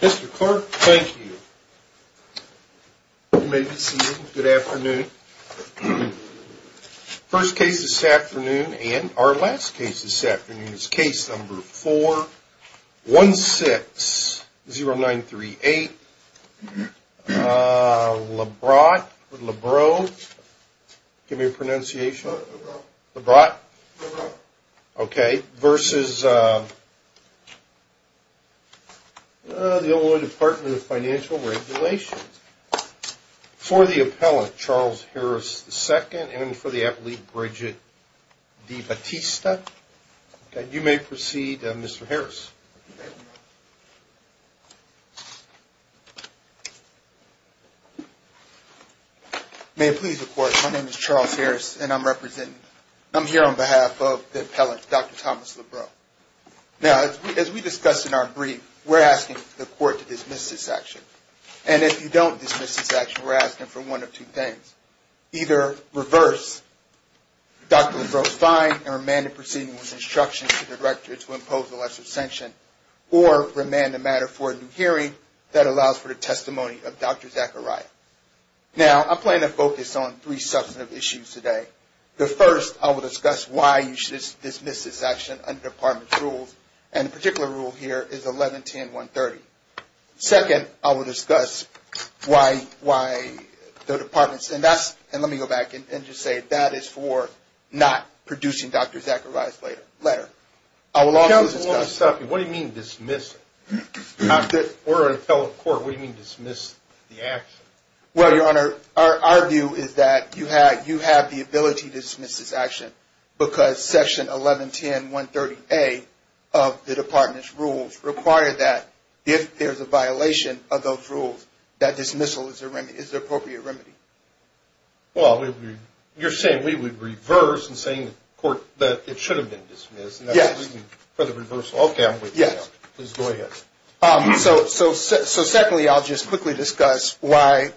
Mr. Clark, thank you. You may be seated. Good afternoon. First case this afternoon and our last case this afternoon is case number 4160938 Lebrot v. Illinois Department of Financial & Regulation For the appellant, Charles Harris II and for the applant, Bridget DeBatista, you may proceed, Mr. Harris. May it please the Court, my name is Charles Harris and I'm here on behalf of the appellant, Dr. Thomas Lebrot. Now, as we discussed in our brief, we're asking the Court to dismiss this action. And if you don't dismiss this action, we're asking for one of two things. Either reverse Dr. Lebrot's fine and remand the proceeding with instructions to the director to impose a lesser sanction or remand the matter for a new hearing that allows for the testimony of Dr. Zachariah. Now, I plan to focus on three substantive issues today. The first, I will discuss why you should dismiss this action under Department's rules and the particular rule here is 1110130. Second, I will discuss why the Department said that's, and let me go back and just say that is for not producing Dr. Zachariah's letter. What do you mean dismiss it? We're an appellate court, what do you mean dismiss the action? Well, Your Honor, our view is that you have the ability to dismiss this action because section 1110130A of the Department's rules require that if there's a violation of those rules, that dismissal is the appropriate remedy. Well, you're saying we would reverse and saying that it should have been dismissed. Yes. For the reversal. Okay, I'm with you. Yes. Please go ahead. So secondly, I'll just quickly discuss why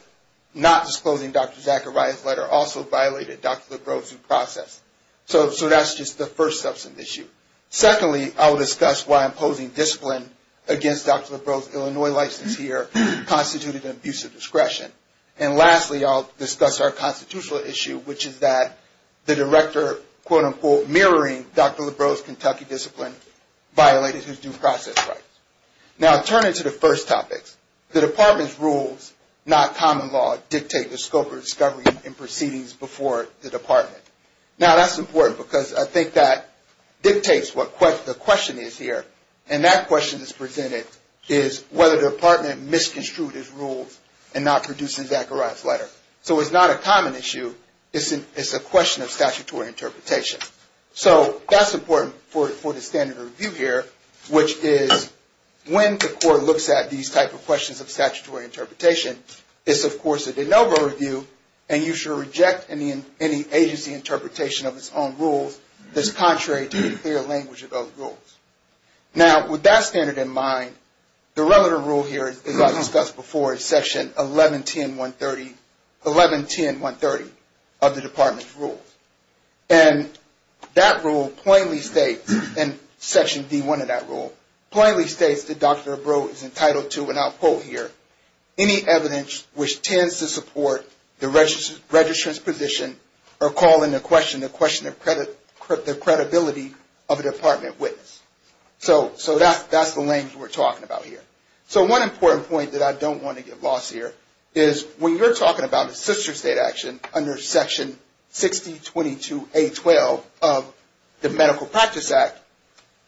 not disclosing Dr. Zachariah's letter also violated Dr. Lebrot's due process. So that's just the first substantive issue. Secondly, I will discuss why imposing discipline against Dr. Lebrot's Illinois license here constituted an abuse of discretion. And lastly, I'll discuss our constitutional issue, which is that the director, quote, unquote, mirroring Dr. Lebrot's Kentucky discipline violated his due process rights. Now, turning to the first topics, the Department's rules, not common law, dictate the scope of discovery and proceedings before the Department. Now, that's important because I think that dictates what the question is here. And that question that's presented is whether the Department misconstrued its rules and not produced a Zachariah's letter. So it's not a common issue. It's a question of statutory interpretation. So that's important for the standard review here, which is when the court looks at these type of questions of statutory interpretation, it's, of course, a de novo review. And you should reject any agency interpretation of its own rules that's contrary to the clear language of those rules. Now, with that standard in mind, the relevant rule here, as I've discussed before, is Section 1110130 of the Department's rules. And that rule plainly states, and Section D1 of that rule, plainly states that Dr. Lebrot is entitled to, and I'll quote here, any evidence which tends to support the registrant's position or call into question the credibility of a Department witness. So that's the language we're talking about here. So one important point that I don't want to get lost here is when you're talking about a sister state action under Section 6022A12 of the Medical Practice Act,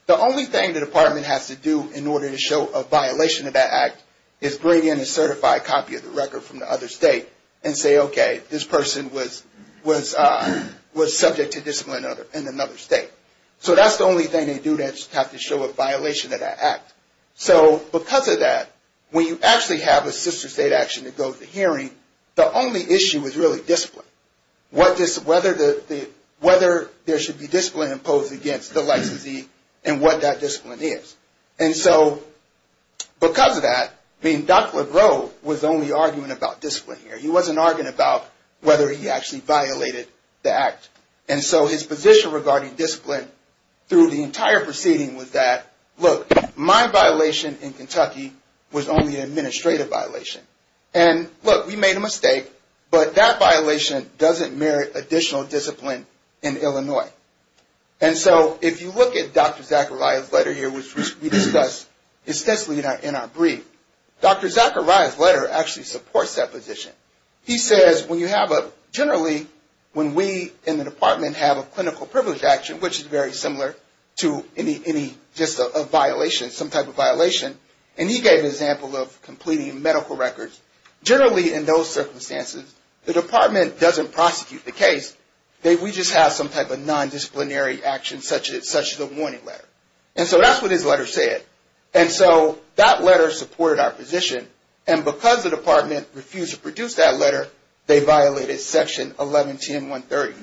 the only thing the Department has to do in order to show a violation of that act is bring in a certified copy of the record from the other state and say, okay, this person was subject to discipline in another state. So that's the only thing they do. They just have to show a violation of that act. So because of that, when you actually have a sister state action that goes to hearing, the only issue is really discipline. Whether there should be discipline imposed against the licensee and what that discipline is. And so because of that, I mean, Dr. Lebrot was only arguing about discipline here. He wasn't arguing about whether he actually violated the act. And so his position regarding discipline through the entire proceeding was that, look, my violation in Kentucky was only an administrative violation. And, look, we made a mistake, but that violation doesn't merit additional discipline in Illinois. And so if you look at Dr. Zachariah's letter here, which we discussed extensively in our brief, Dr. Zachariah's letter actually supports that position. He says, generally, when we in the department have a clinical privilege action, which is very similar to just a violation, some type of violation, and he gave an example of completing medical records, generally in those circumstances, the department doesn't prosecute the case. We just have some type of nondisciplinary action, such as a warning letter. And so that's what his letter said. And so that letter supported our position. And because the department refused to produce that letter, they violated Section 1110.130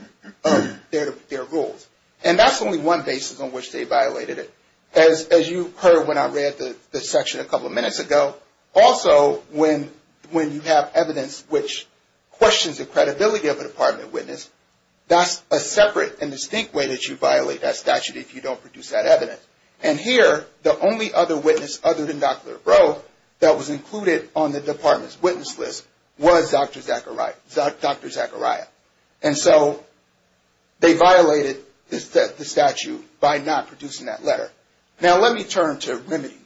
of their rules. And that's only one basis on which they violated it. As you heard when I read the section a couple of minutes ago, also when you have evidence which questions the credibility of a department witness, that's a separate and distinct way that you violate that statute if you don't produce that evidence. And here, the only other witness other than Dr. LaRoe that was included on the department's witness list was Dr. Zachariah. And so they violated the statute by not producing that letter. Now let me turn to remedy.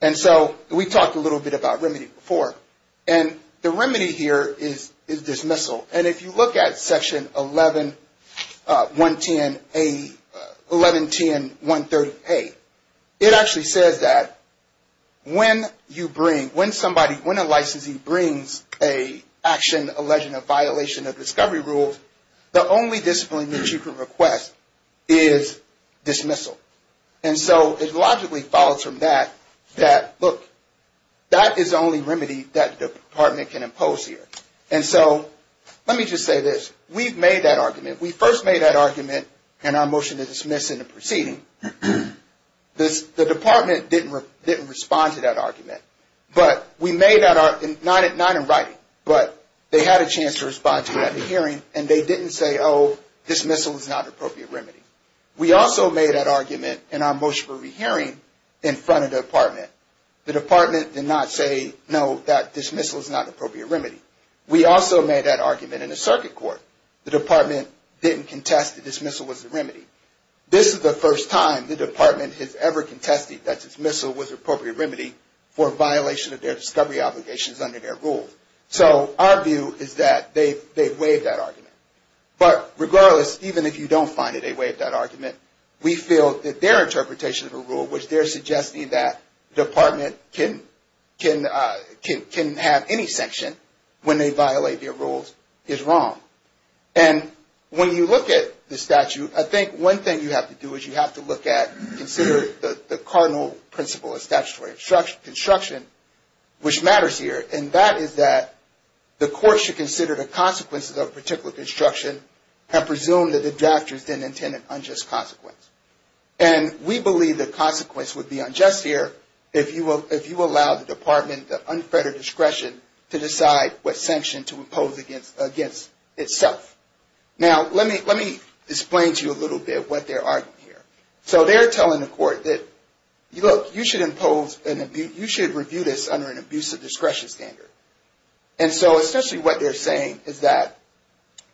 And so we talked a little bit about remedy before. And the remedy here is dismissal. And if you look at Section 1110.130a, it actually says that when a licensee brings an action alleging a violation of discovery rules, the only discipline that you can request is dismissal. And so it logically follows from that that, look, that is the only remedy that the department can impose here. And so let me just say this. We've made that argument. We first made that argument in our motion to dismiss in the proceeding. The department didn't respond to that argument. But we made that argument, not in writing, but they had a chance to respond to it at a hearing. And they didn't say, oh, dismissal is not an appropriate remedy. We also made that argument in our motion for rehearing in front of the department. The department did not say, no, that dismissal is not an appropriate remedy. We also made that argument in the circuit court. The department didn't contest that dismissal was a remedy. This is the first time the department has ever contested that dismissal was an appropriate remedy for a violation of their discovery obligations under their rules. So our view is that they waived that argument. But regardless, even if you don't find that they waived that argument, we feel that their interpretation of the rule, which they're suggesting that the department can have any sanction when they violate their rules, is wrong. And when you look at the statute, I think one thing you have to do is you have to look at, consider the cardinal principle of statutory construction, which matters here. And that is that the court should consider the consequences of a particular construction and presume that the drafters didn't intend an unjust consequence. And we believe the consequence would be unjust here if you allow the department the unfettered discretion to decide what sanction to impose against itself. Now, let me explain to you a little bit what they're arguing here. So they're telling the court that, look, you should impose, you should review this under an abusive discretion standard. And so essentially what they're saying is that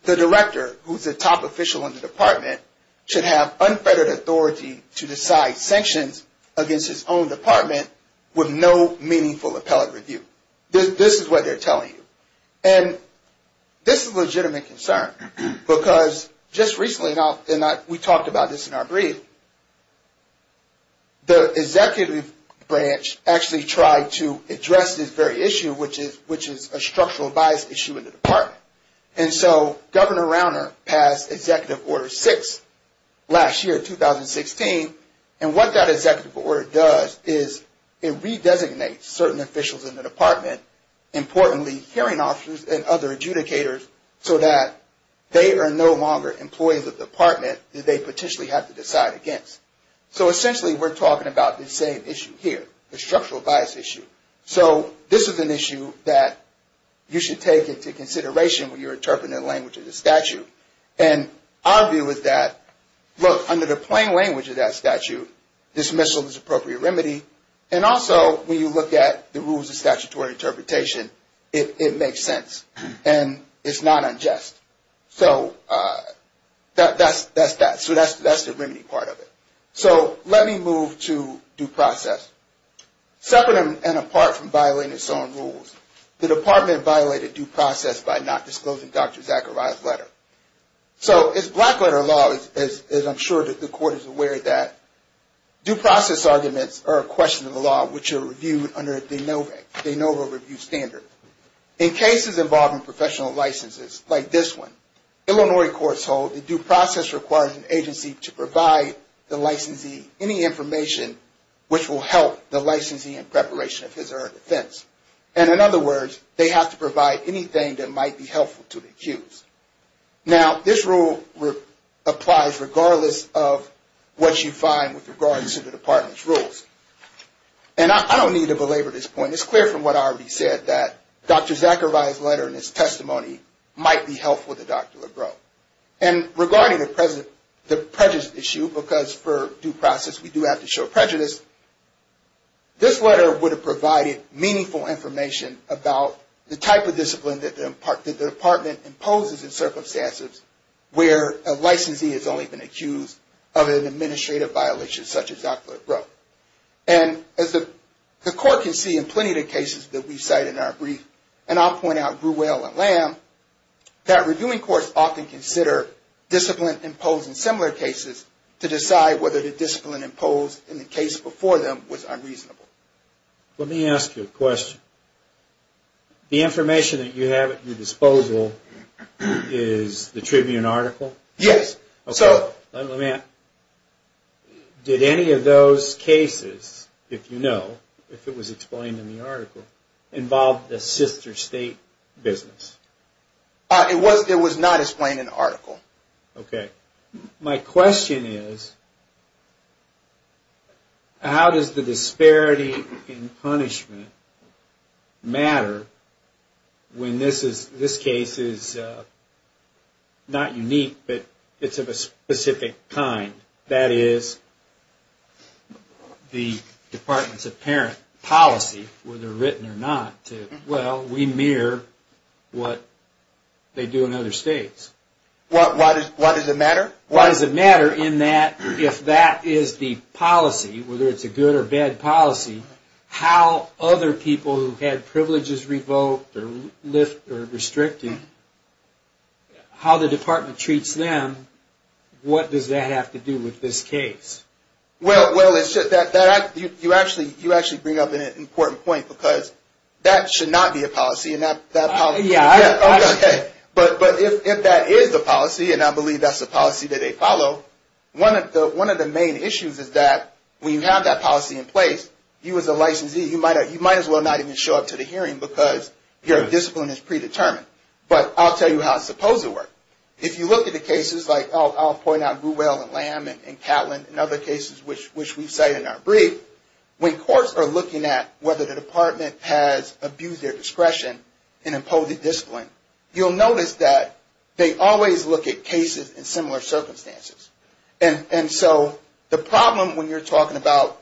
the director, who's the top official in the department, should have unfettered authority to decide sanctions against his own department with no meaningful appellate review. This is what they're telling you. And this is a legitimate concern because just recently, and we talked about this in our brief, the executive branch actually tried to address this very issue, which is a structural bias issue in the department. And so Governor Rauner passed Executive Order 6 last year, 2016, and what that executive order does is it redesignates certain officials in the department, importantly hearing officers and other adjudicators, so that they are no longer employees of the department that they potentially have to decide against. So essentially we're talking about the same issue here, the structural bias issue. So this is an issue that you should take into consideration when you're interpreting the language of the statute. And our view is that, look, under the plain language of that statute, dismissal is the appropriate remedy, and also when you look at the rules of statutory interpretation, it makes sense and it's not unjust. So that's that. So that's the remedy part of it. So let me move to due process. Separate and apart from violating its own rules, the department violated due process by not disclosing Dr. Zachariah's letter. So it's black letter law, as I'm sure the court is aware of that. Due process arguments are a question of the law, which are reviewed under a de novo review standard. In cases involving professional licenses, like this one, Illinois courts hold that due process requires an agency to provide the licensee any information which will help the licensee in preparation of his or her defense. And in other words, they have to provide anything that might be helpful to the accused. Now, this rule applies regardless of what you find with regards to the department's rules. And I don't need to belabor this point. It's clear from what I already said that Dr. Zachariah's letter and his testimony might be helpful to Dr. Legro. And regarding the prejudice issue, because for due process we do have to show prejudice, this letter would have provided meaningful information about the type of discipline that the department imposes in circumstances where a licensee has only been accused of an administrative violation, such as Dr. Legro. And as the court can see in plenty of the cases that we cite in our brief, and I'll point out Gruel and Lamb, that reviewing courts often consider discipline imposed in similar cases to decide whether the discipline imposed in the case before them was unreasonable. Let me ask you a question. The information that you have at your disposal is the Tribune article? Yes. Did any of those cases, if you know, if it was explained in the article, involve the sister state business? It was not explained in the article. My question is, how does the disparity in punishment matter when this case is not unique, but it's of a specific kind? That is, the department's apparent policy, whether written or not, well, we mirror what they do in other states. Why does it matter? Why does it matter in that if that is the policy, whether it's a good or bad policy, how other people who had privileges revoked or restricted, how the department treats them, what does that have to do with this case? Well, you actually bring up an important point, because that should not be a policy. But if that is the policy, and I believe that's the policy that they follow, one of the main issues is that when you have that policy in place, you as a licensee, you might as well not even show up to the hearing, because your discipline is predetermined. But I'll tell you how I suppose it works. If you look at the cases, like I'll point out Gruwell and Lamb and Catlin and other cases, which we cite in our brief, when courts are looking at whether the department has abused their discretion in imposing discipline, you'll notice that they always look at cases in similar circumstances. And so the problem when you're talking about...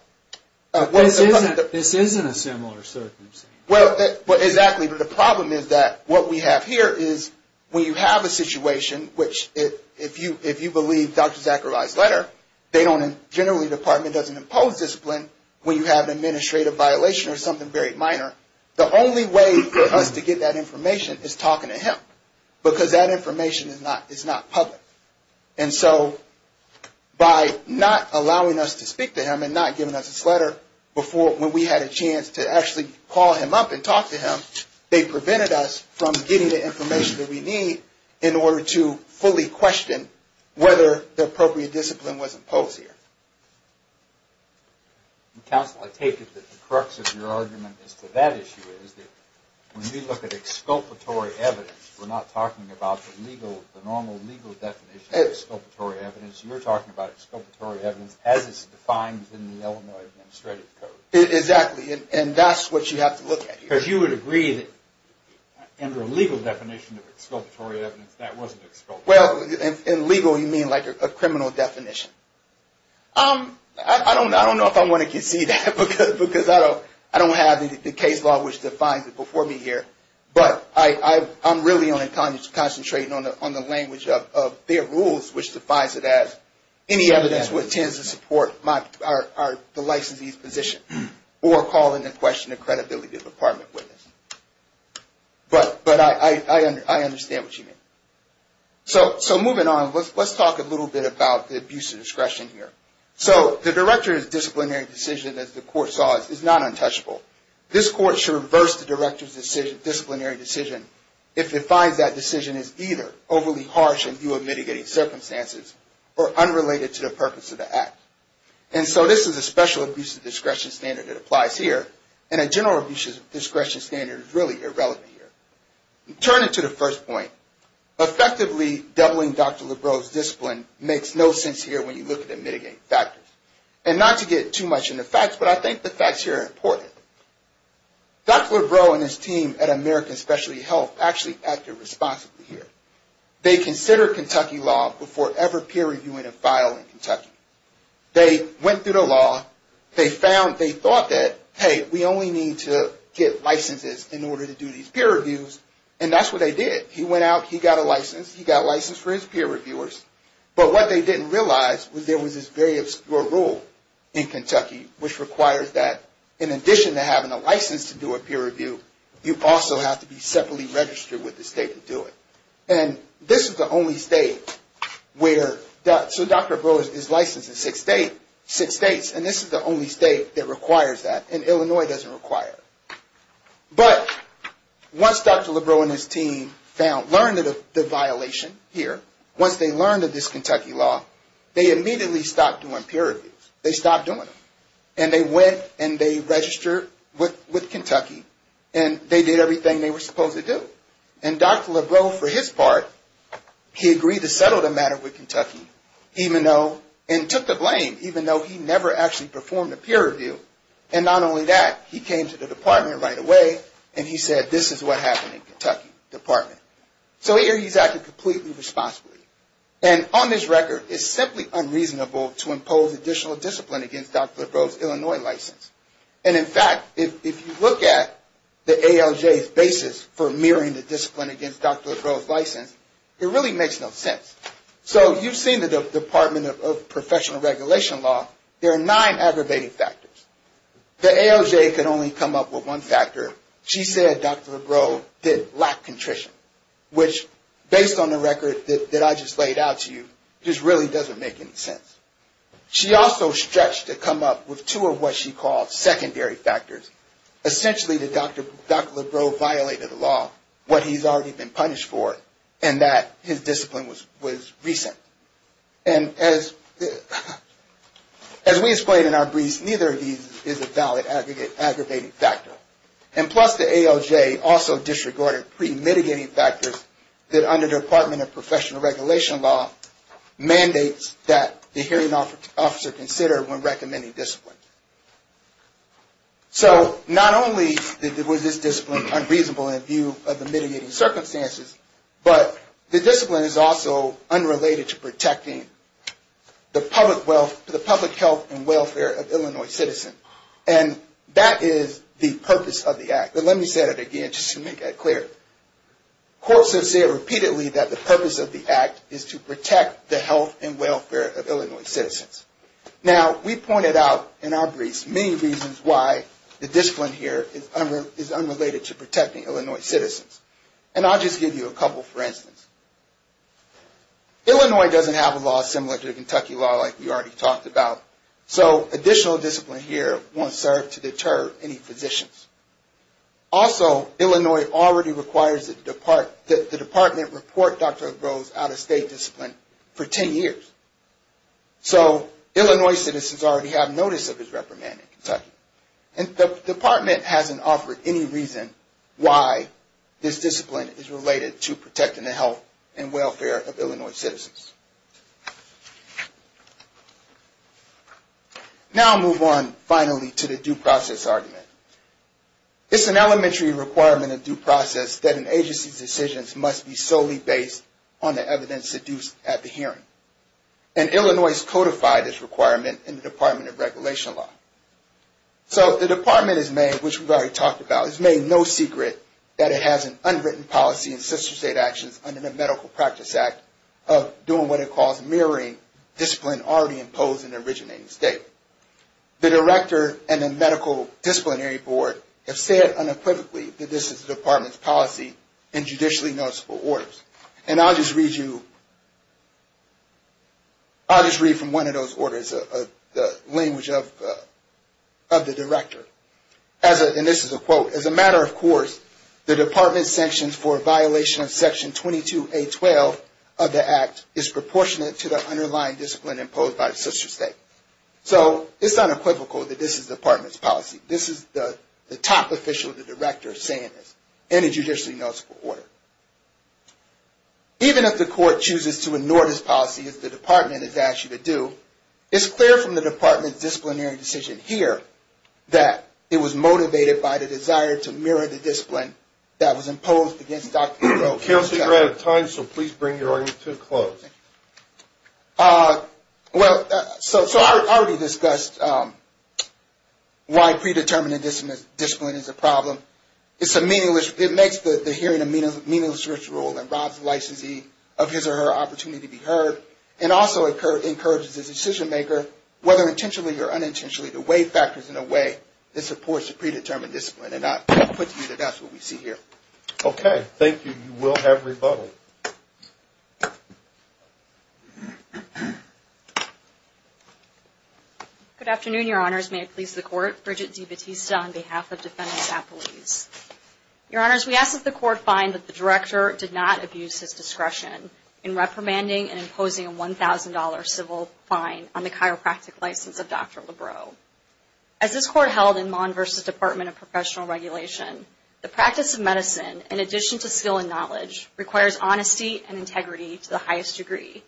This isn't a similar circumstance. Well, exactly. But the problem is that what we have here is when you have a situation, which if you believe Dr. Zachariah's letter, generally the department doesn't impose discipline when you have an administrative violation or something very minor. The only way for us to get that information is talking to him, because that information is not public. And so by not allowing us to speak to him and not giving us his letter when we had a chance to actually call him up and talk to him, they prevented us from getting the information that we need in order to fully question whether the appropriate discipline was imposed here. Counsel, I take it that the crux of your argument as to that issue is that when we look at exculpatory evidence, we're not talking about the normal legal definition of exculpatory evidence. You're talking about exculpatory evidence as it's defined in the Illinois Administrative Code. Exactly, and that's what you have to look at here. Because you would agree that under a legal definition of exculpatory evidence, that wasn't exculpatory. Well, in legal you mean like a criminal definition. I don't know if I want to concede that, because I don't have the case law which defines it before me here. But I'm really only concentrating on the language of their rules, which defines it as any evidence which tends to support the licensee's position or call into question the credibility of the department witness. But I understand what you mean. So moving on, let's talk a little bit about the abuse of discretion here. So the director's disciplinary decision, as the court saw it, is not untouchable. This court should reverse the director's disciplinary decision if it finds that decision is either overly harsh in view of mitigating circumstances or unrelated to the purpose of the act. And so this is a special abuse of discretion standard that applies here. And a general abuse of discretion standard is really irrelevant here. Turning to the first point, effectively doubling Dr. Lebrow's discipline makes no sense here when you look at the mitigating factors. And not to get too much into facts, but I think the facts here are important. Dr. Lebrow and his team at American Specialty Health actually acted responsibly here. They considered Kentucky law before ever peer reviewing a file in Kentucky. They went through the law. They thought that, hey, we only need to get licenses in order to do these peer reviews, and that's what they did. He went out. He got a license. He got a license for his peer reviewers. But what they didn't realize was there was this very obscure rule in Kentucky which requires that in addition to having a license to do a peer review, you also have to be separately registered with the state to do it. And this is the only state where Dr. Lebrow is licensed in six states. And this is the only state that requires that, and Illinois doesn't require it. But once Dr. Lebrow and his team learned of the violation here, once they learned of this Kentucky law, they immediately stopped doing peer reviews. They stopped doing them. And they went and they registered with Kentucky, and they did everything they were supposed to do. And Dr. Lebrow, for his part, he agreed to settle the matter with Kentucky, and took the blame, even though he never actually performed a peer review. And not only that, he came to the department right away, and he said, this is what happened in Kentucky Department. So here he's acting completely responsibly. And on this record, it's simply unreasonable to impose additional discipline against Dr. Lebrow's Illinois license. And in fact, if you look at the ALJ's basis for mirroring the discipline against Dr. Lebrow's license, it really makes no sense. So you've seen the Department of Professional Regulation Law. There are nine aggravating factors. The ALJ could only come up with one factor. She said Dr. Lebrow did lack contrition, which, based on the record that I just laid out to you, just really doesn't make any sense. She also stretched to come up with two of what she called secondary factors. Essentially, that Dr. Lebrow violated the law, what he's already been punished for, and that his discipline was recent. And as we explained in our briefs, neither of these is a valid aggravating factor. And plus, the ALJ also disregarded pre-mitigating factors that under Department of Professional Regulation Law mandates that the hearing officer consider when recommending discipline. So not only was this discipline unreasonable in view of the mitigating circumstances, but the discipline is also unrelated to protecting the public health and welfare of Illinois citizens. And that is the purpose of the Act. But let me say that again, just to make that clear. Courts have said repeatedly that the purpose of the Act is to protect the health and welfare of Illinois citizens. Now, we pointed out in our briefs many reasons why the discipline here is unrelated to protecting Illinois citizens. And I'll just give you a couple for instance. Illinois doesn't have a law similar to the Kentucky law like we already talked about. So additional discipline here won't serve to deter any physicians. Also, Illinois already requires that the department report Dr. Lebrow's out-of-state discipline for 10 years. So Illinois citizens already have notice of his reprimand in Kentucky. And the department hasn't offered any reason why this discipline is related to protecting the health and welfare of Illinois citizens. Now I'll move on finally to the due process argument. It's an elementary requirement in due process that an agency's decisions must be solely based on the evidence seduced at the hearing. And Illinois has codified this requirement in the Department of Regulation Law. So the department has made, which we've already talked about, it's made no secret that it has an unwritten policy in sister state actions under the Medical Practice Act of doing what it calls mirroring discipline already imposed in the originating state. The director and the medical disciplinary board have said unequivocally that this is the department's policy in judicially noticeable orders. And I'll just read you, I'll just read from one of those orders, the language of the director. And this is a quote. As a matter of course, the department's sanctions for violation of section 22A12 of the act is proportionate to the underlying discipline imposed by the sister state. So it's unequivocal that this is the department's policy. This is the top official of the director saying this in a judicially noticeable order. Even if the court chooses to ignore this policy, as the department has asked you to do, it's clear from the department's disciplinary decision here that it was motivated by the desire to mirror the discipline that was imposed against Dr. Well, so I already discussed why predetermining discipline is a problem. It's a meaningless, it makes the hearing a meaningless ritual and robs the licensee of his or her opportunity to be heard. It also encourages the decision maker, whether intentionally or unintentionally, to weigh factors in a way that supports the predetermined discipline. And I'll put to you that that's what we see here. Okay. Thank you. You will have rebuttal. Good afternoon, your honors. May it please the court. Bridget DiBattista on behalf of defendants at police. Your honors, we ask that the court find that the director did not abuse his discretion in reprimanding and imposing a $1,000 civil fine on the chiropractic license of Dr. Lebrow. As this court held in Mond versus Department of Professional Regulation, the practice of medicine, in addition to skill and knowledge, requires honesty and integrity to the highest degree.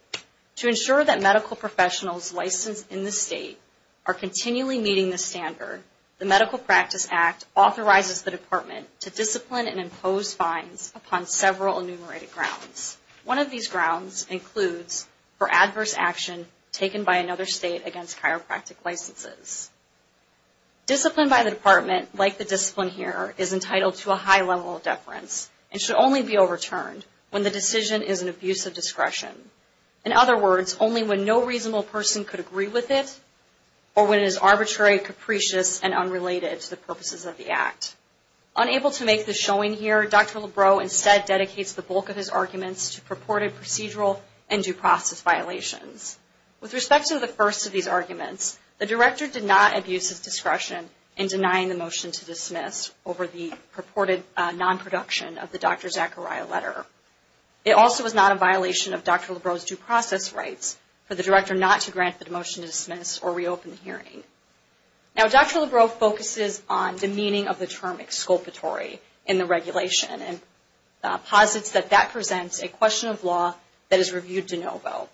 To ensure that medical professionals licensed in this state are continually meeting this standard, the Medical Practice Act authorizes the department to discipline and impose fines upon several enumerated grounds. One of these grounds includes for adverse action taken by another state against chiropractic licenses. Discipline by the department, like the discipline here, is entitled to a high level of deference and should only be overturned when the decision is an abuse of discretion. In other words, only when no reasonable person could agree with it or when it is arbitrary, capricious, and unrelated to the purposes of the act. Unable to make this showing here, Dr. Lebrow instead dedicates the bulk of his arguments to purported procedural and due process violations. With respect to the first of these arguments, the director did not abuse his discretion in denying the motion to dismiss over the purported non-production of the Dr. Zachariah letter. It also was not a violation of Dr. Lebrow's due process rights for the director not to grant the motion to dismiss or reopen the hearing. Now, Dr. Lebrow focuses on the meaning of the term exculpatory in the regulation and posits that that presents a question of law that is reviewed de novo.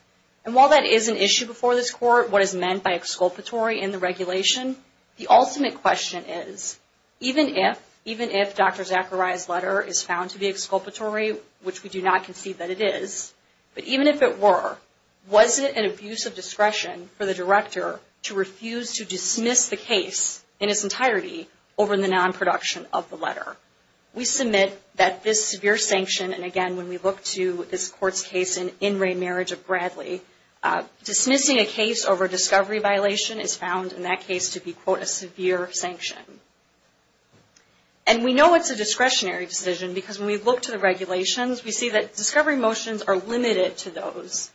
And while that is an issue before this court, what is meant by exculpatory in the regulation, the ultimate question is, even if Dr. Zachariah's letter is found to be exculpatory, which we do not concede that it is, but even if it were, was it an abuse of discretion for the director to refuse to dismiss the case in its entirety over the non-production of the letter? We submit that this severe sanction, and again, when we look to this court's case in In Re Marriage of Bradley, dismissing a case over a discovery violation is found in that case to be, quote, a severe sanction. And we know it's a discretionary decision because when we look to the regulations, we see that discovery motions are limited to those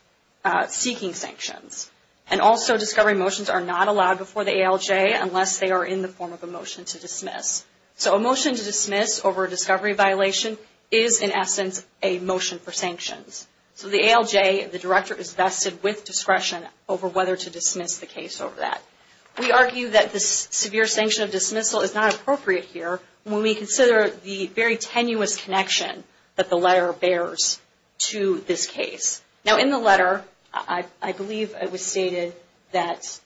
seeking sanctions. And also, discovery motions are not allowed before the ALJ unless they are in the form of a motion to dismiss. So a motion to dismiss over a discovery violation is, in essence, a motion for sanctions. So the ALJ, the director, is vested with discretion over whether to dismiss the case over that. We argue that this severe sanction of dismissal is not appropriate here when we consider the very tenuous connection that the letter bears to this case. Now, in the letter, I believe it was stated that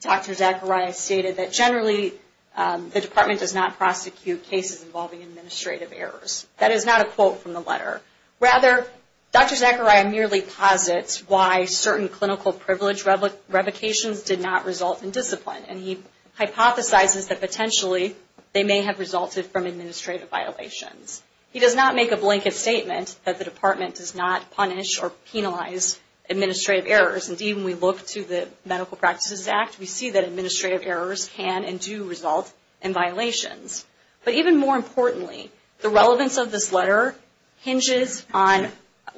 Dr. Zachariah stated that, generally, the department does not prosecute cases involving administrative errors. That is not a quote from the letter. Rather, Dr. Zachariah merely posits why certain clinical privilege revocations did not result in discipline. And he hypothesizes that, potentially, they may have resulted from administrative violations. He does not make a blanket statement that the department does not punish or penalize administrative errors. Indeed, when we look to the Medical Practices Act, we see that administrative errors can and do result in violations. But even more importantly, the relevance of this letter hinges on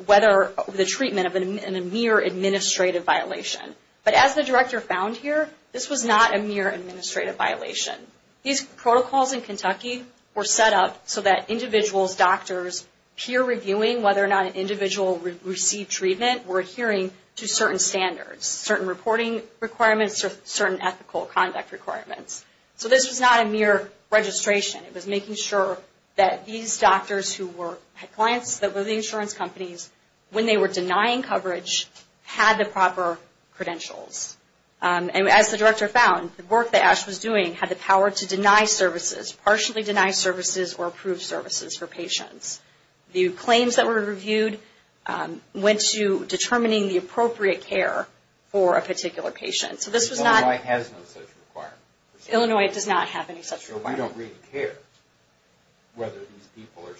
whether the treatment of a mere administrative violation. But as the director found here, this was not a mere administrative violation. These protocols in Kentucky were set up so that individuals, doctors, peer reviewing whether or not an individual received treatment were adhering to certain standards, certain reporting requirements, certain ethical conduct requirements. So this was not a mere registration. It was making sure that these doctors who had clients that were the insurance companies, when they were denying coverage, had the proper credentials. And as the director found, the work that Ash was doing had the power to deny services, partially deny services, or approve services for patients. The claims that were reviewed went to determining the appropriate care for a particular patient. Illinois has no such requirement. Illinois does not have any such requirement. We don't really care whether these people are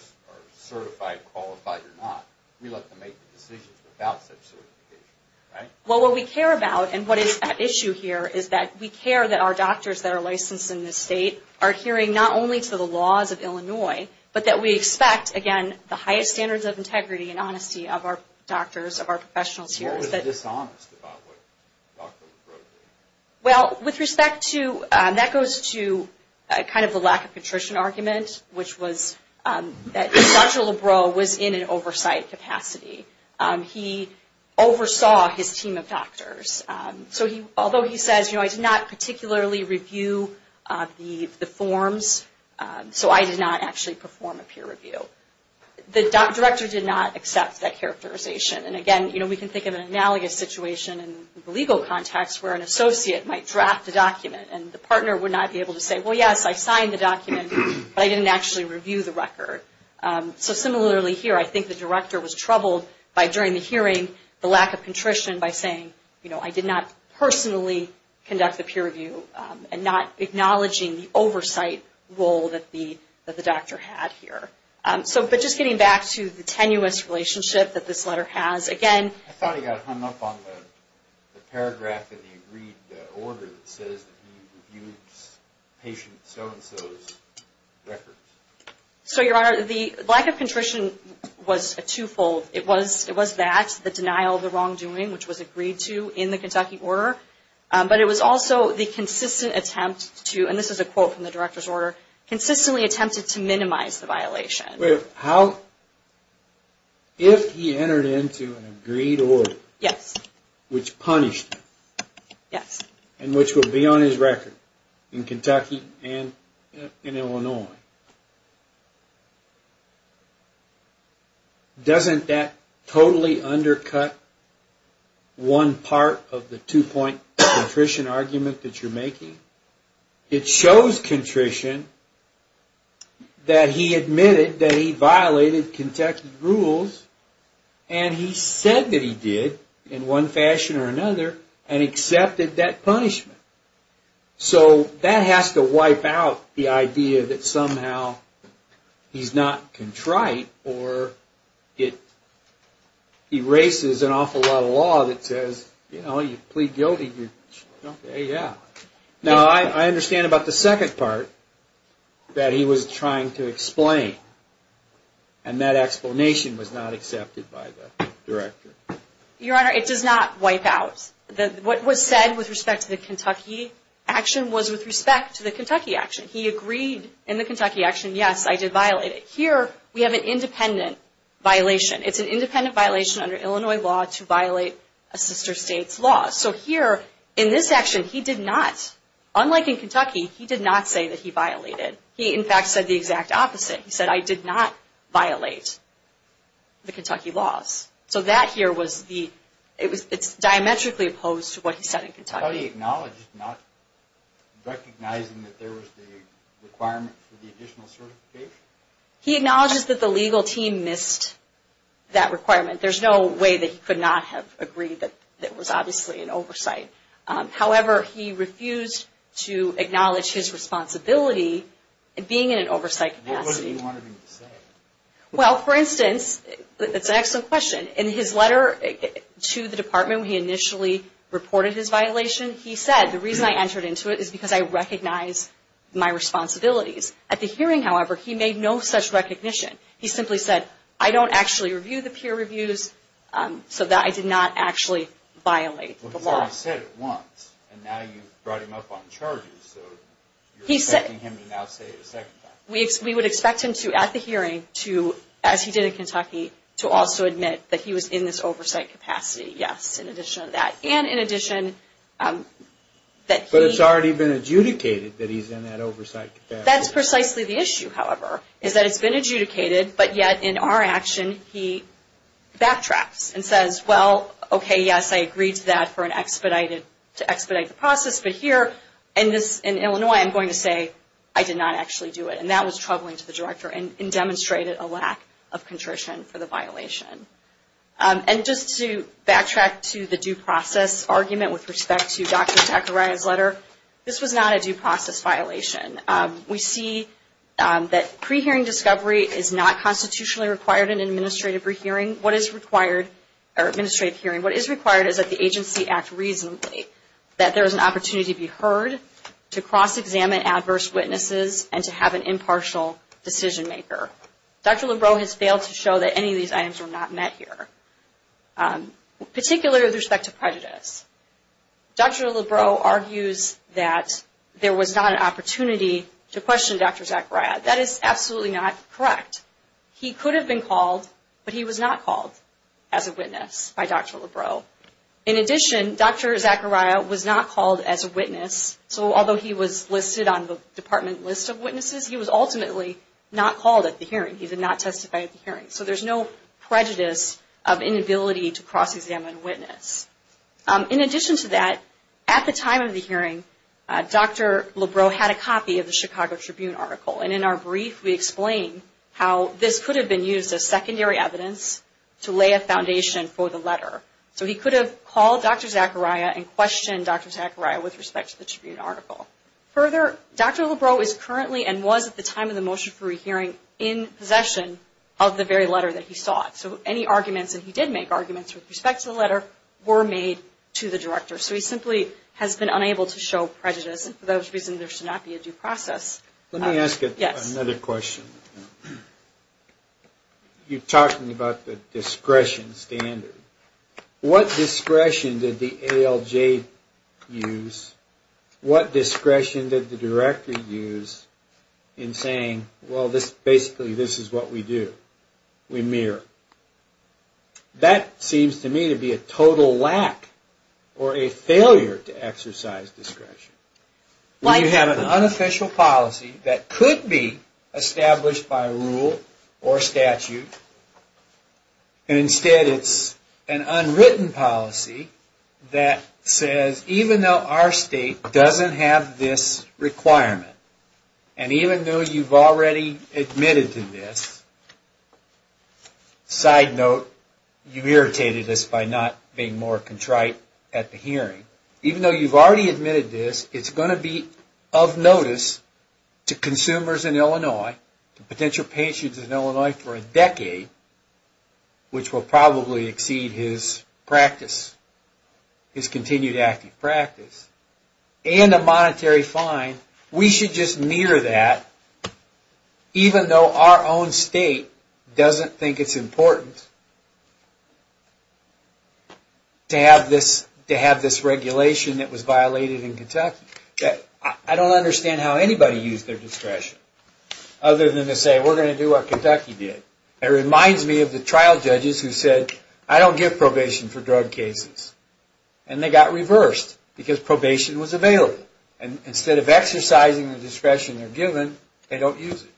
certified, qualified, or not. We let them make the decisions without such certification, right? Well, what we care about, and what is at issue here, is that we care that our doctors that are licensed in this state are adhering not only to the laws of Illinois, but that we expect, again, the highest standards of integrity and honesty of our doctors, of our professionals here. Why was he dishonest about what Dr. Lebrow did? Well, with respect to, that goes to kind of the lack of contrition argument, which was that Dr. Lebrow was in an oversight capacity. He oversaw his team of doctors. So although he says, you know, I did not particularly review the forms, so I did not actually perform a peer review. The director did not accept that characterization. And again, you know, we can think of an analogous situation in the legal context where an associate might draft a document, and the partner would not be able to say, well, yes, I signed the document, but I didn't actually review the record. So similarly here, I think the director was troubled by, during the hearing, the lack of contrition by saying, you know, I did not personally conduct the peer review and not acknowledging the oversight role that the doctor had here. But just getting back to the tenuous relationship that this letter has, again. I thought he got hung up on the paragraph in the agreed order that says that he reviews patient so-and-so's records. So, Your Honor, the lack of contrition was a twofold. It was that, the denial of the wrongdoing, which was agreed to in the Kentucky order, but it was also the consistent attempt to, and this is a quote from the director's order, consistently attempted to minimize the violation. If he entered into an agreed order, which punished him, and which would be on his record in Kentucky and in Illinois, doesn't that totally undercut one part of the two-point contrition argument that you're making? It shows contrition that he admitted that he violated Kentucky rules, and he said that he did, in one fashion or another, and accepted that punishment. So that has to wipe out the idea that somehow he's not contrite, or it erases an awful lot of law that says, you know, you plead guilty. Now, I understand about the second part that he was trying to explain, and that explanation was not accepted by the director. Your Honor, it does not wipe out. What was said with respect to the Kentucky action was with respect to the Kentucky action. He agreed in the Kentucky action, yes, I did violate it. Here, we have an independent violation. It's an independent violation under Illinois law to violate a sister state's law. So here, in this action, he did not, unlike in Kentucky, he did not say that he violated. He, in fact, said the exact opposite. He said, I did not violate the Kentucky laws. So that here was the, it's diametrically opposed to what he said in Kentucky. How do you acknowledge not recognizing that there was the requirement for the additional certification? He acknowledges that the legal team missed that requirement. There's no way that he could not have agreed that there was obviously an oversight. However, he refused to acknowledge his responsibility in being in an oversight capacity. Well, for instance, it's an excellent question. In his letter to the department, he initially reported his violation. He said, the reason I entered into it is because I recognize my responsibilities. At the hearing, however, he made no such recognition. He simply said, I don't actually review the peer reviews, so I did not actually violate the law. He said it once, and now you've brought him up on charges, so you're expecting him to now say it a second time. We would expect him to, at the hearing, to, as he did in Kentucky, to also admit that he was in this oversight capacity. Yes, in addition to that. But it's already been adjudicated that he's in that oversight capacity. That's precisely the issue, however, is that it's been adjudicated, but yet in our action, he backtracks and says, well, okay, yes, I agreed to that for an expedited, to expedite the process, but here, in Illinois, I'm going to say I did not actually do it. And that was troubling to the director and demonstrated a lack of contrition for the violation. And just to backtrack to the due process argument with respect to Dr. Zachariah's letter, this was not a due process violation. We see that pre-hearing discovery is not constitutionally required in an administrative hearing. What is required is that the agency act reasonably, that there is an opportunity to be heard, to cross-examine adverse witnesses, and to have an impartial decision maker. Dr. Lebrow has failed to show that any of these items were not met here, particularly with respect to prejudice. Dr. Lebrow argues that there was not an opportunity to question Dr. Zachariah. That is absolutely not correct. He could have been called, but he was not called as a witness by Dr. Lebrow. In addition, Dr. Zachariah was not called as a witness, so although he was listed on the department list of witnesses, he was ultimately not called at the hearing. He did not testify at the hearing. So there is no prejudice of inability to cross-examine a witness. In addition to that, at the time of the hearing, Dr. Lebrow had a copy of the Chicago Tribune article, and in our brief we explain how this could have been used as secondary evidence to lay a foundation for the letter. So he could have called Dr. Zachariah and questioned Dr. Zachariah with respect to the Tribune article. Further, Dr. Lebrow is currently, and was at the time of the motion for rehearing, in possession of the very letter that he sought. So any arguments that he did make, arguments with respect to the letter, were made to the director. So he simply has been unable to show prejudice, and for that reason there should not be a due process. Let me ask another question. You're talking about the discretion standard. What discretion did the ALJ use? What discretion did the director use in saying, well, basically this is what we do. We mirror. That seems to me to be a total lack, or a failure to exercise discretion. You have an unofficial policy that could be established by rule or statute. And instead it's an unwritten policy that says, even though our state doesn't have this requirement, and even though you've already admitted to this, side note, you've irritated us by not being more contrite at the hearing. Even though you've already admitted to this, it's going to be of notice to consumers in Illinois, to potential patients in Illinois for a decade, which will probably exceed his continued active practice, and a monetary fine. We should just mirror that, even though our own state doesn't think it's important to have this regulation. I don't understand how anybody used their discretion, other than to say, we're going to do what Kentucky did. It reminds me of the trial judges who said, I don't give probation for drug cases. And they got reversed, because probation was available. Instead of exercising the discretion they're given, they don't use it.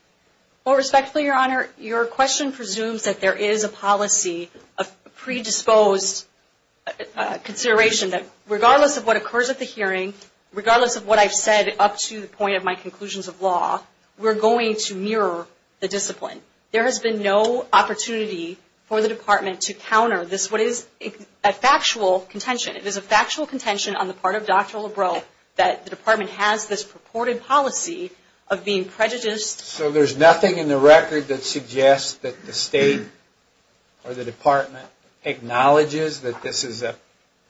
Well, respectfully, Your Honor, your question presumes that there is a policy of predisposed consideration, that regardless of what occurs at the hearing, regardless of what I've said up to the point of my conclusions of law, we're going to mirror the discipline. There has been no opportunity for the Department to counter this, what is a factual contention. It is a factual contention on the part of Dr. Lebrow that the Department has this purported policy of being prejudiced. There's nothing in the record that suggests that the State or the Department acknowledges that this is a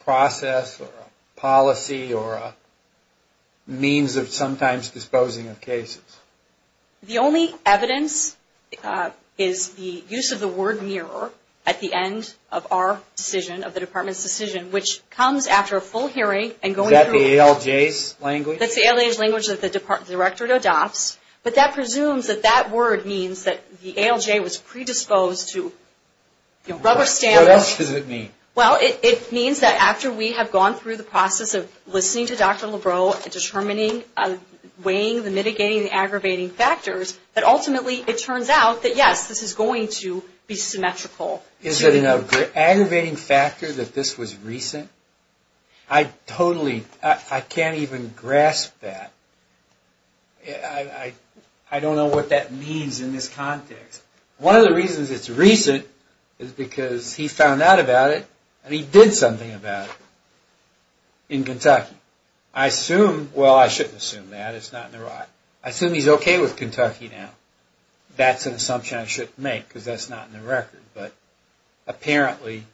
process or a policy or a means of sometimes disposing of cases. The only evidence is the use of the word mirror at the end of our decision, of the Department's decision, which comes after a full hearing. Is that the ALJ's language? That's the ALJ's language that the Directorate adopts. But that presumes that that word means that the ALJ was predisposed to rubber stamping. What else does it mean? Well, it means that after we have gone through the process of listening to Dr. Lebrow and determining, weighing the mitigating and aggravating factors, that ultimately it turns out that yes, this is going to be symmetrical. Is it an aggravating factor that this was recent? I totally, I can't even grasp that. I don't know what that means in this context. One of the reasons it's recent is because he found out about it and he did something about it in Kentucky. I assume, well I shouldn't assume that, it's not in the right. I assume he's okay with Kentucky now. That's an assumption I shouldn't make because that's not in the record. But apparently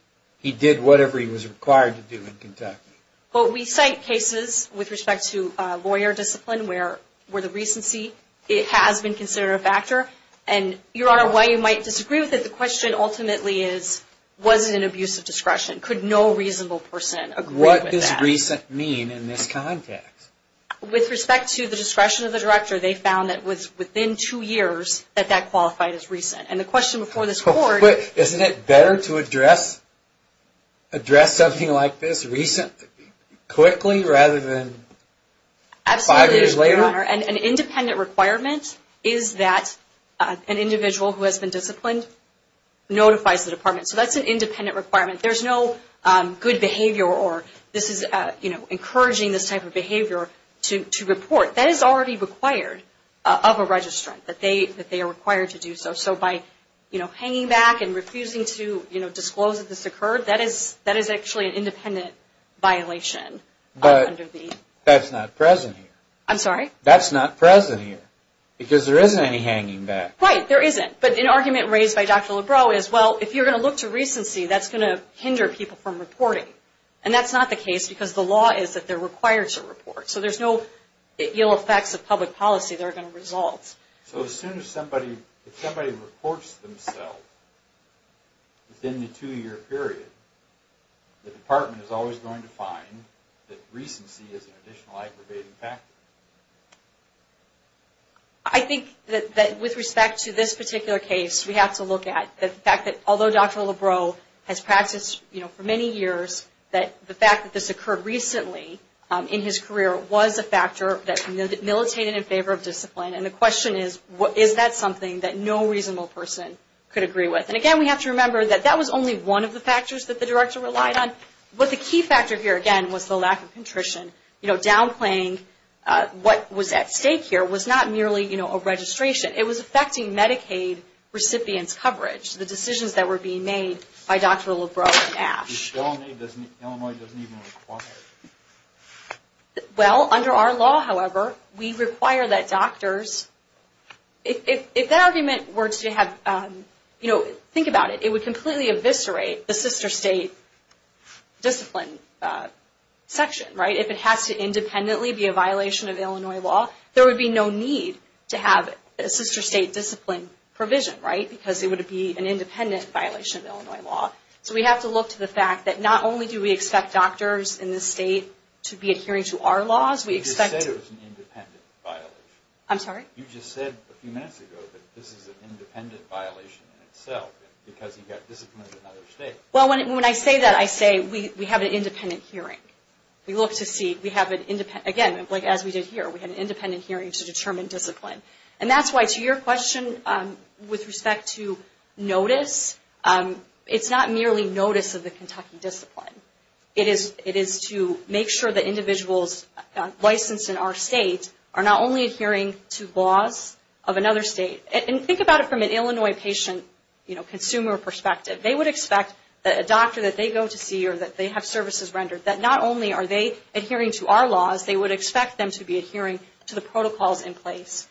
he did whatever he was required to do in Kentucky. But we cite cases with respect to lawyer discipline where the recency has been considered a factor. Your Honor, while you might disagree with it, the question ultimately is, was it an abuse of discretion? Could no reasonable person agree with that? What does recent mean in this context? With respect to the discretion of the director, they found that within two years that that qualified as recent. Isn't it better to address something like this recently rather than five years later? Your Honor, an independent requirement is that an individual who has been disciplined notifies the department. So that's an independent requirement. There's no good behavior or this is encouraging this type of behavior to report. That is already required of a registrant, that they are required to do so. So by hanging back and refusing to disclose that this occurred, that is actually an independent violation. But that's not present here. Because there isn't any hanging back. Right, there isn't. But an argument raised by Dr. Lebrow is, well, if you're going to look to recency, that's going to hinder people from reporting. And that's not the case because the law is that they're required to report. So there's no ill effects of public policy that are going to result. So as soon as somebody reports themselves within the two-year period, the department is always going to find that recency is an additional aggravating factor. I think that with respect to this particular case, we have to look at the fact that although Dr. Lebrow has practiced for many years, that the fact that this occurred recently in his career was a factor that militated in favor of discipline. And the question is, is that something that no reasonable person could agree with? And again, we have to remember that that was only one of the factors that the director relied on. But the key factor here, again, was the lack of contrition. Downplaying what was at stake here was not merely a registration. It was affecting Medicaid recipients' coverage, the decisions that were being made by Dr. Lebrow and Ash. Illinois doesn't even require it. Well, under our law, however, we require that doctors, if that argument were to have, you know, think about it. It would completely eviscerate the sister state discipline section, right? If it has to independently be a violation of Illinois law, there would be no need to have a sister state discipline provision, right? Because it would be an independent violation of Illinois law. So we have to look to the fact that not only do we expect doctors in this state to be adhering to our laws, we expect... You just said it was an independent violation. I'm sorry? You just said a few minutes ago that this is an independent violation in itself because he got disciplined in another state. Well, when I say that, I say we have an independent hearing. Again, as we did here, we had an independent hearing to determine discipline. And that's why, to your question with respect to notice, it's not merely notice of the Kentucky discipline. It is to make sure that individuals licensed in our state are not only adhering to laws of another state. And think about it from an Illinois patient consumer perspective. They would expect that a doctor that they go to see or that they have services rendered, that not only are they adhering to our laws, they would expect them to be adhering to the protocols in place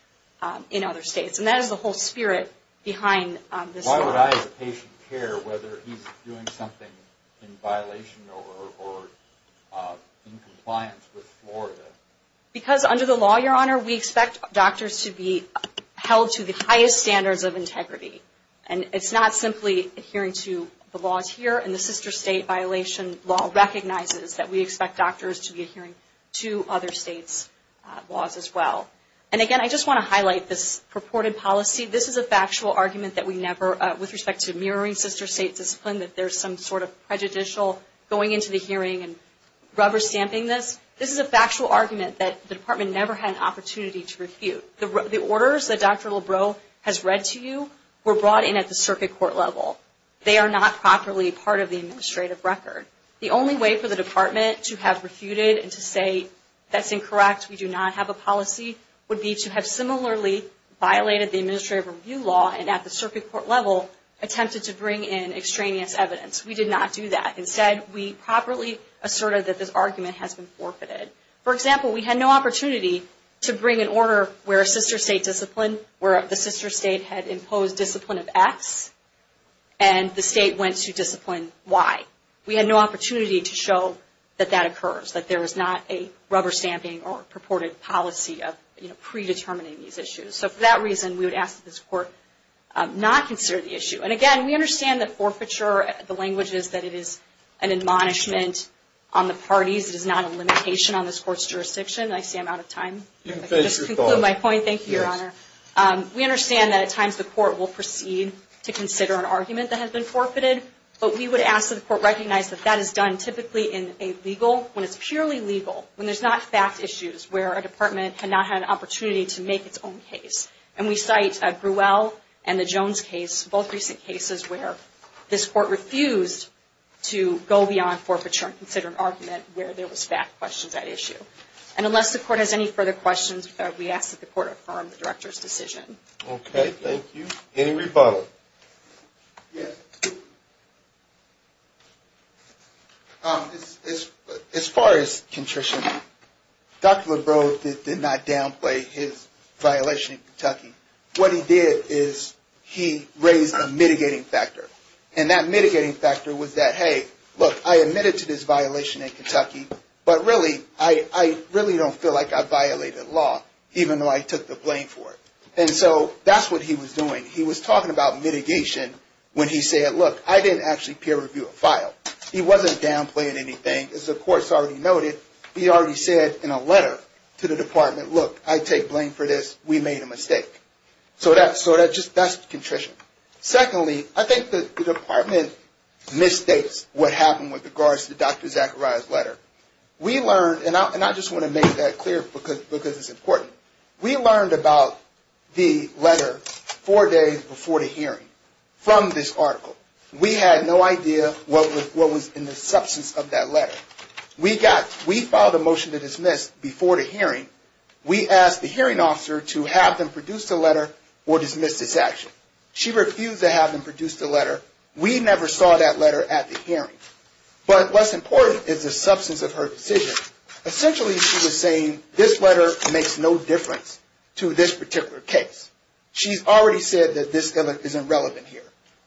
in other states. And that is the whole spirit behind this law. Why would I as a patient care whether he's doing something in violation or in compliance with Florida? Because under the law, Your Honor, we expect doctors to be held to the highest standards of integrity. And it's not simply adhering to the laws here. And the sister state violation law recognizes that we expect doctors to be adhering to other states' laws as well. And again, I just want to highlight this purported policy. This is a factual argument that we never, with respect to mirroring sister state discipline, that there's some sort of prejudicial going into the hearing and rubber stamping this. This is a factual argument that the department never had an opportunity to refute. The orders that Dr. Lebrow has read to you were brought in at the circuit court level. They are not properly part of the administrative record. The only way for the department to have refuted and to say that's incorrect, we do not have a policy, would be to have similarly violated the administrative review law and at the circuit court level attempted to bring in extraneous evidence. We did not do that. Instead, we properly asserted that this argument has been forfeited. For example, we had no opportunity to bring an order where a sister state discipline, where the sister state had imposed discipline of X, and the state went to discipline Y. We had no opportunity to show that that occurs, that there was not a rubber stamping or purported policy of predetermining these issues. For that reason, we would ask that this court not consider the issue. Again, we understand that forfeiture, the language is that it is an admonishment on the parties. It is not a limitation on this court's jurisdiction. We understand that at times the court will proceed to consider an argument that has been forfeited, but we would ask that the court recognize that that is done typically in a legal, when it's purely legal, when there's not fact issues where a department had not had an opportunity to make its own case. And we cite Gruelle and the Jones case, both recent cases where this court refused to go beyond forfeiture and consider an argument where there was fact questions at issue. And unless the court has any further questions, we ask that the court affirm the director's decision. Okay, thank you. Any rebuttal? Yes. As far as contrition, Dr. Lebrow did not downplay his violation in Kentucky. What he did is he raised a mitigating factor. And that mitigating factor was that, hey, look, I admitted to this violation in Kentucky, but really, I really don't feel like I violated law, even though I took the blame for it. And so that's what he was doing. He was talking about mitigation when he said, look, I didn't actually peer review a file. He wasn't downplaying anything. As the court's already noted, he already said in a letter to the department, look, I take blame for this. We made a mistake. So that's contrition. Secondly, I think the department misstates what happened with regards to Dr. Zachariah's letter. We learned, and I just want to make that clear, because it's important. We learned about the letter four days before the hearing from this article. We had no idea what was in the substance of that letter. We filed a motion to dismiss before the hearing. We asked the hearing officer to have them produce the letter or dismiss this action. She refused to have them produce the letter. We never saw that letter at the hearing. But what's important is the substance of her decision. Essentially she was saying this letter makes no difference to this particular case. She's already said that this isn't relevant here.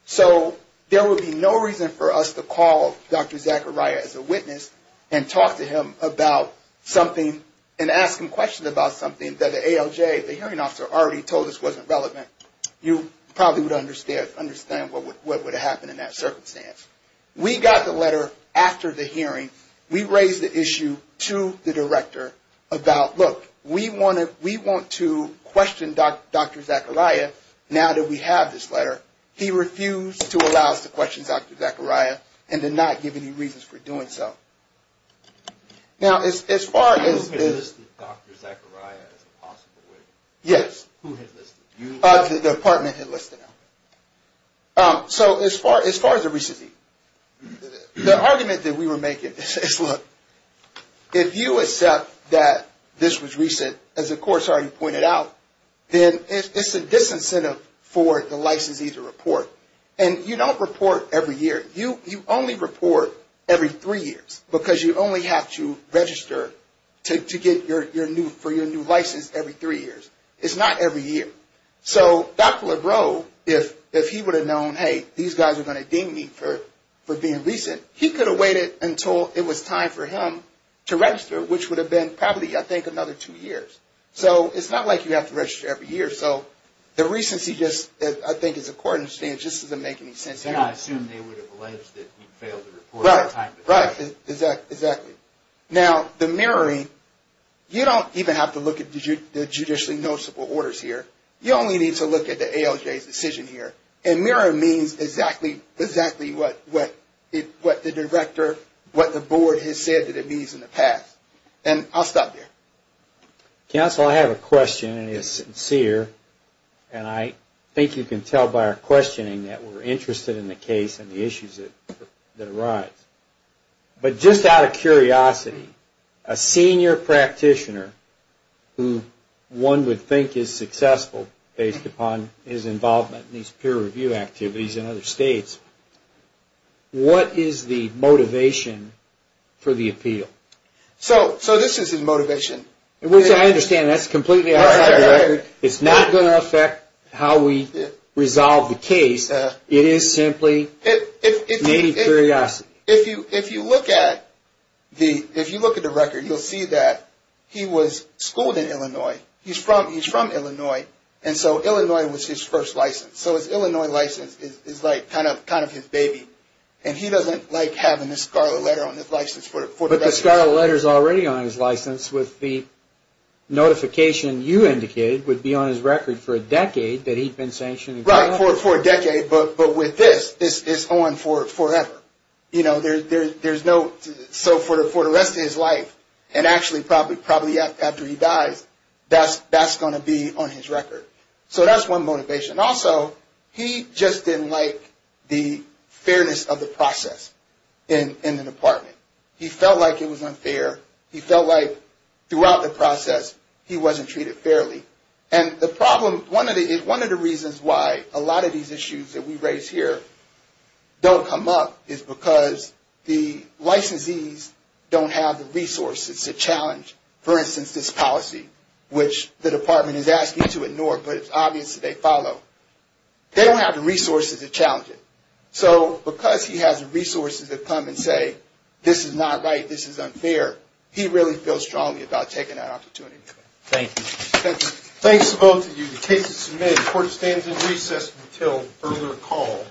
So there would be no reason for us to call Dr. Zachariah as a witness and talk to him about something and ask him questions about something that the ALJ, the hearing officer, already told us wasn't relevant. You probably would understand what would have happened in that circumstance. We got the letter after the hearing. We raised the issue to the director about, look, we want to question Dr. Zachariah now that we have this letter. He refused to allow us to question Dr. Zachariah and did not give any reasons for doing so. Now as far as... Who had listed Dr. Zachariah as a possible witness? Yes, the department had listed him. So as far as the recency, the argument that we were making is, look, if you accept that this was recent, as the court's already pointed out, then it's a disincentive for the licensee to report. And you don't report every year. You only report every three years because you only have to register to get your new license every three years. It's not every year. So Dr. Lebrow, if he would have known, hey, these guys are going to deem me for being recent, he could have waited until it was time for him to register, which would have been probably, I think, another two years. So it's not like you have to register every year. So the recency just, I think, as the court understands, just doesn't make any sense. And I assume they would have alleged that he failed to report at the time. Right, exactly. Now the mirroring, you don't even have to look at the judicially noticeable orders here. You only need to look at the ALJ's decision here. And mirroring means exactly what the director, what the board has said that it means in the past. And I'll stop there. Counsel, I have a question, and it's sincere. And I think you can tell by our questioning that we're interested in the case and the issues that arise. But just out of curiosity, a senior practitioner who one would think is successful based upon his involvement in these peer review activities in other states, what is the motivation for the appeal? So this is his motivation. I understand that's completely outside the record. It's not going to affect how we resolve the case. It is simply maybe curiosity. If you look at the record, you'll see that he was schooled in Illinois. He's from Illinois. And so Illinois was his first license. So his Illinois license is like kind of his baby. And he doesn't like having this scarlet letter on his license. But the scarlet letter's already on his license with the notification you indicated would be on his record for a decade that he'd been sanctioned. Right, for a decade. But with this, it's on forever. You know, there's no, so for the rest of his life, and actually probably after he dies, that's going to be on his record. So that's one motivation. Also, he just didn't like the fairness of the process in the department. He felt like it was unfair. He felt like throughout the process, he wasn't treated fairly. And the problem, one of the reasons why a lot of these issues that we raise here don't come up is because the licensees don't have the resources to challenge, for instance, this policy, which the department is asking to ignore, but it's obvious that they follow. They don't have the resources to challenge it. So because he has the resources to come and say, this is not right, this is unfair, he really feels strongly about taking that opportunity. Thanks to both of you. The case is submitted. The court stands in recess until further call.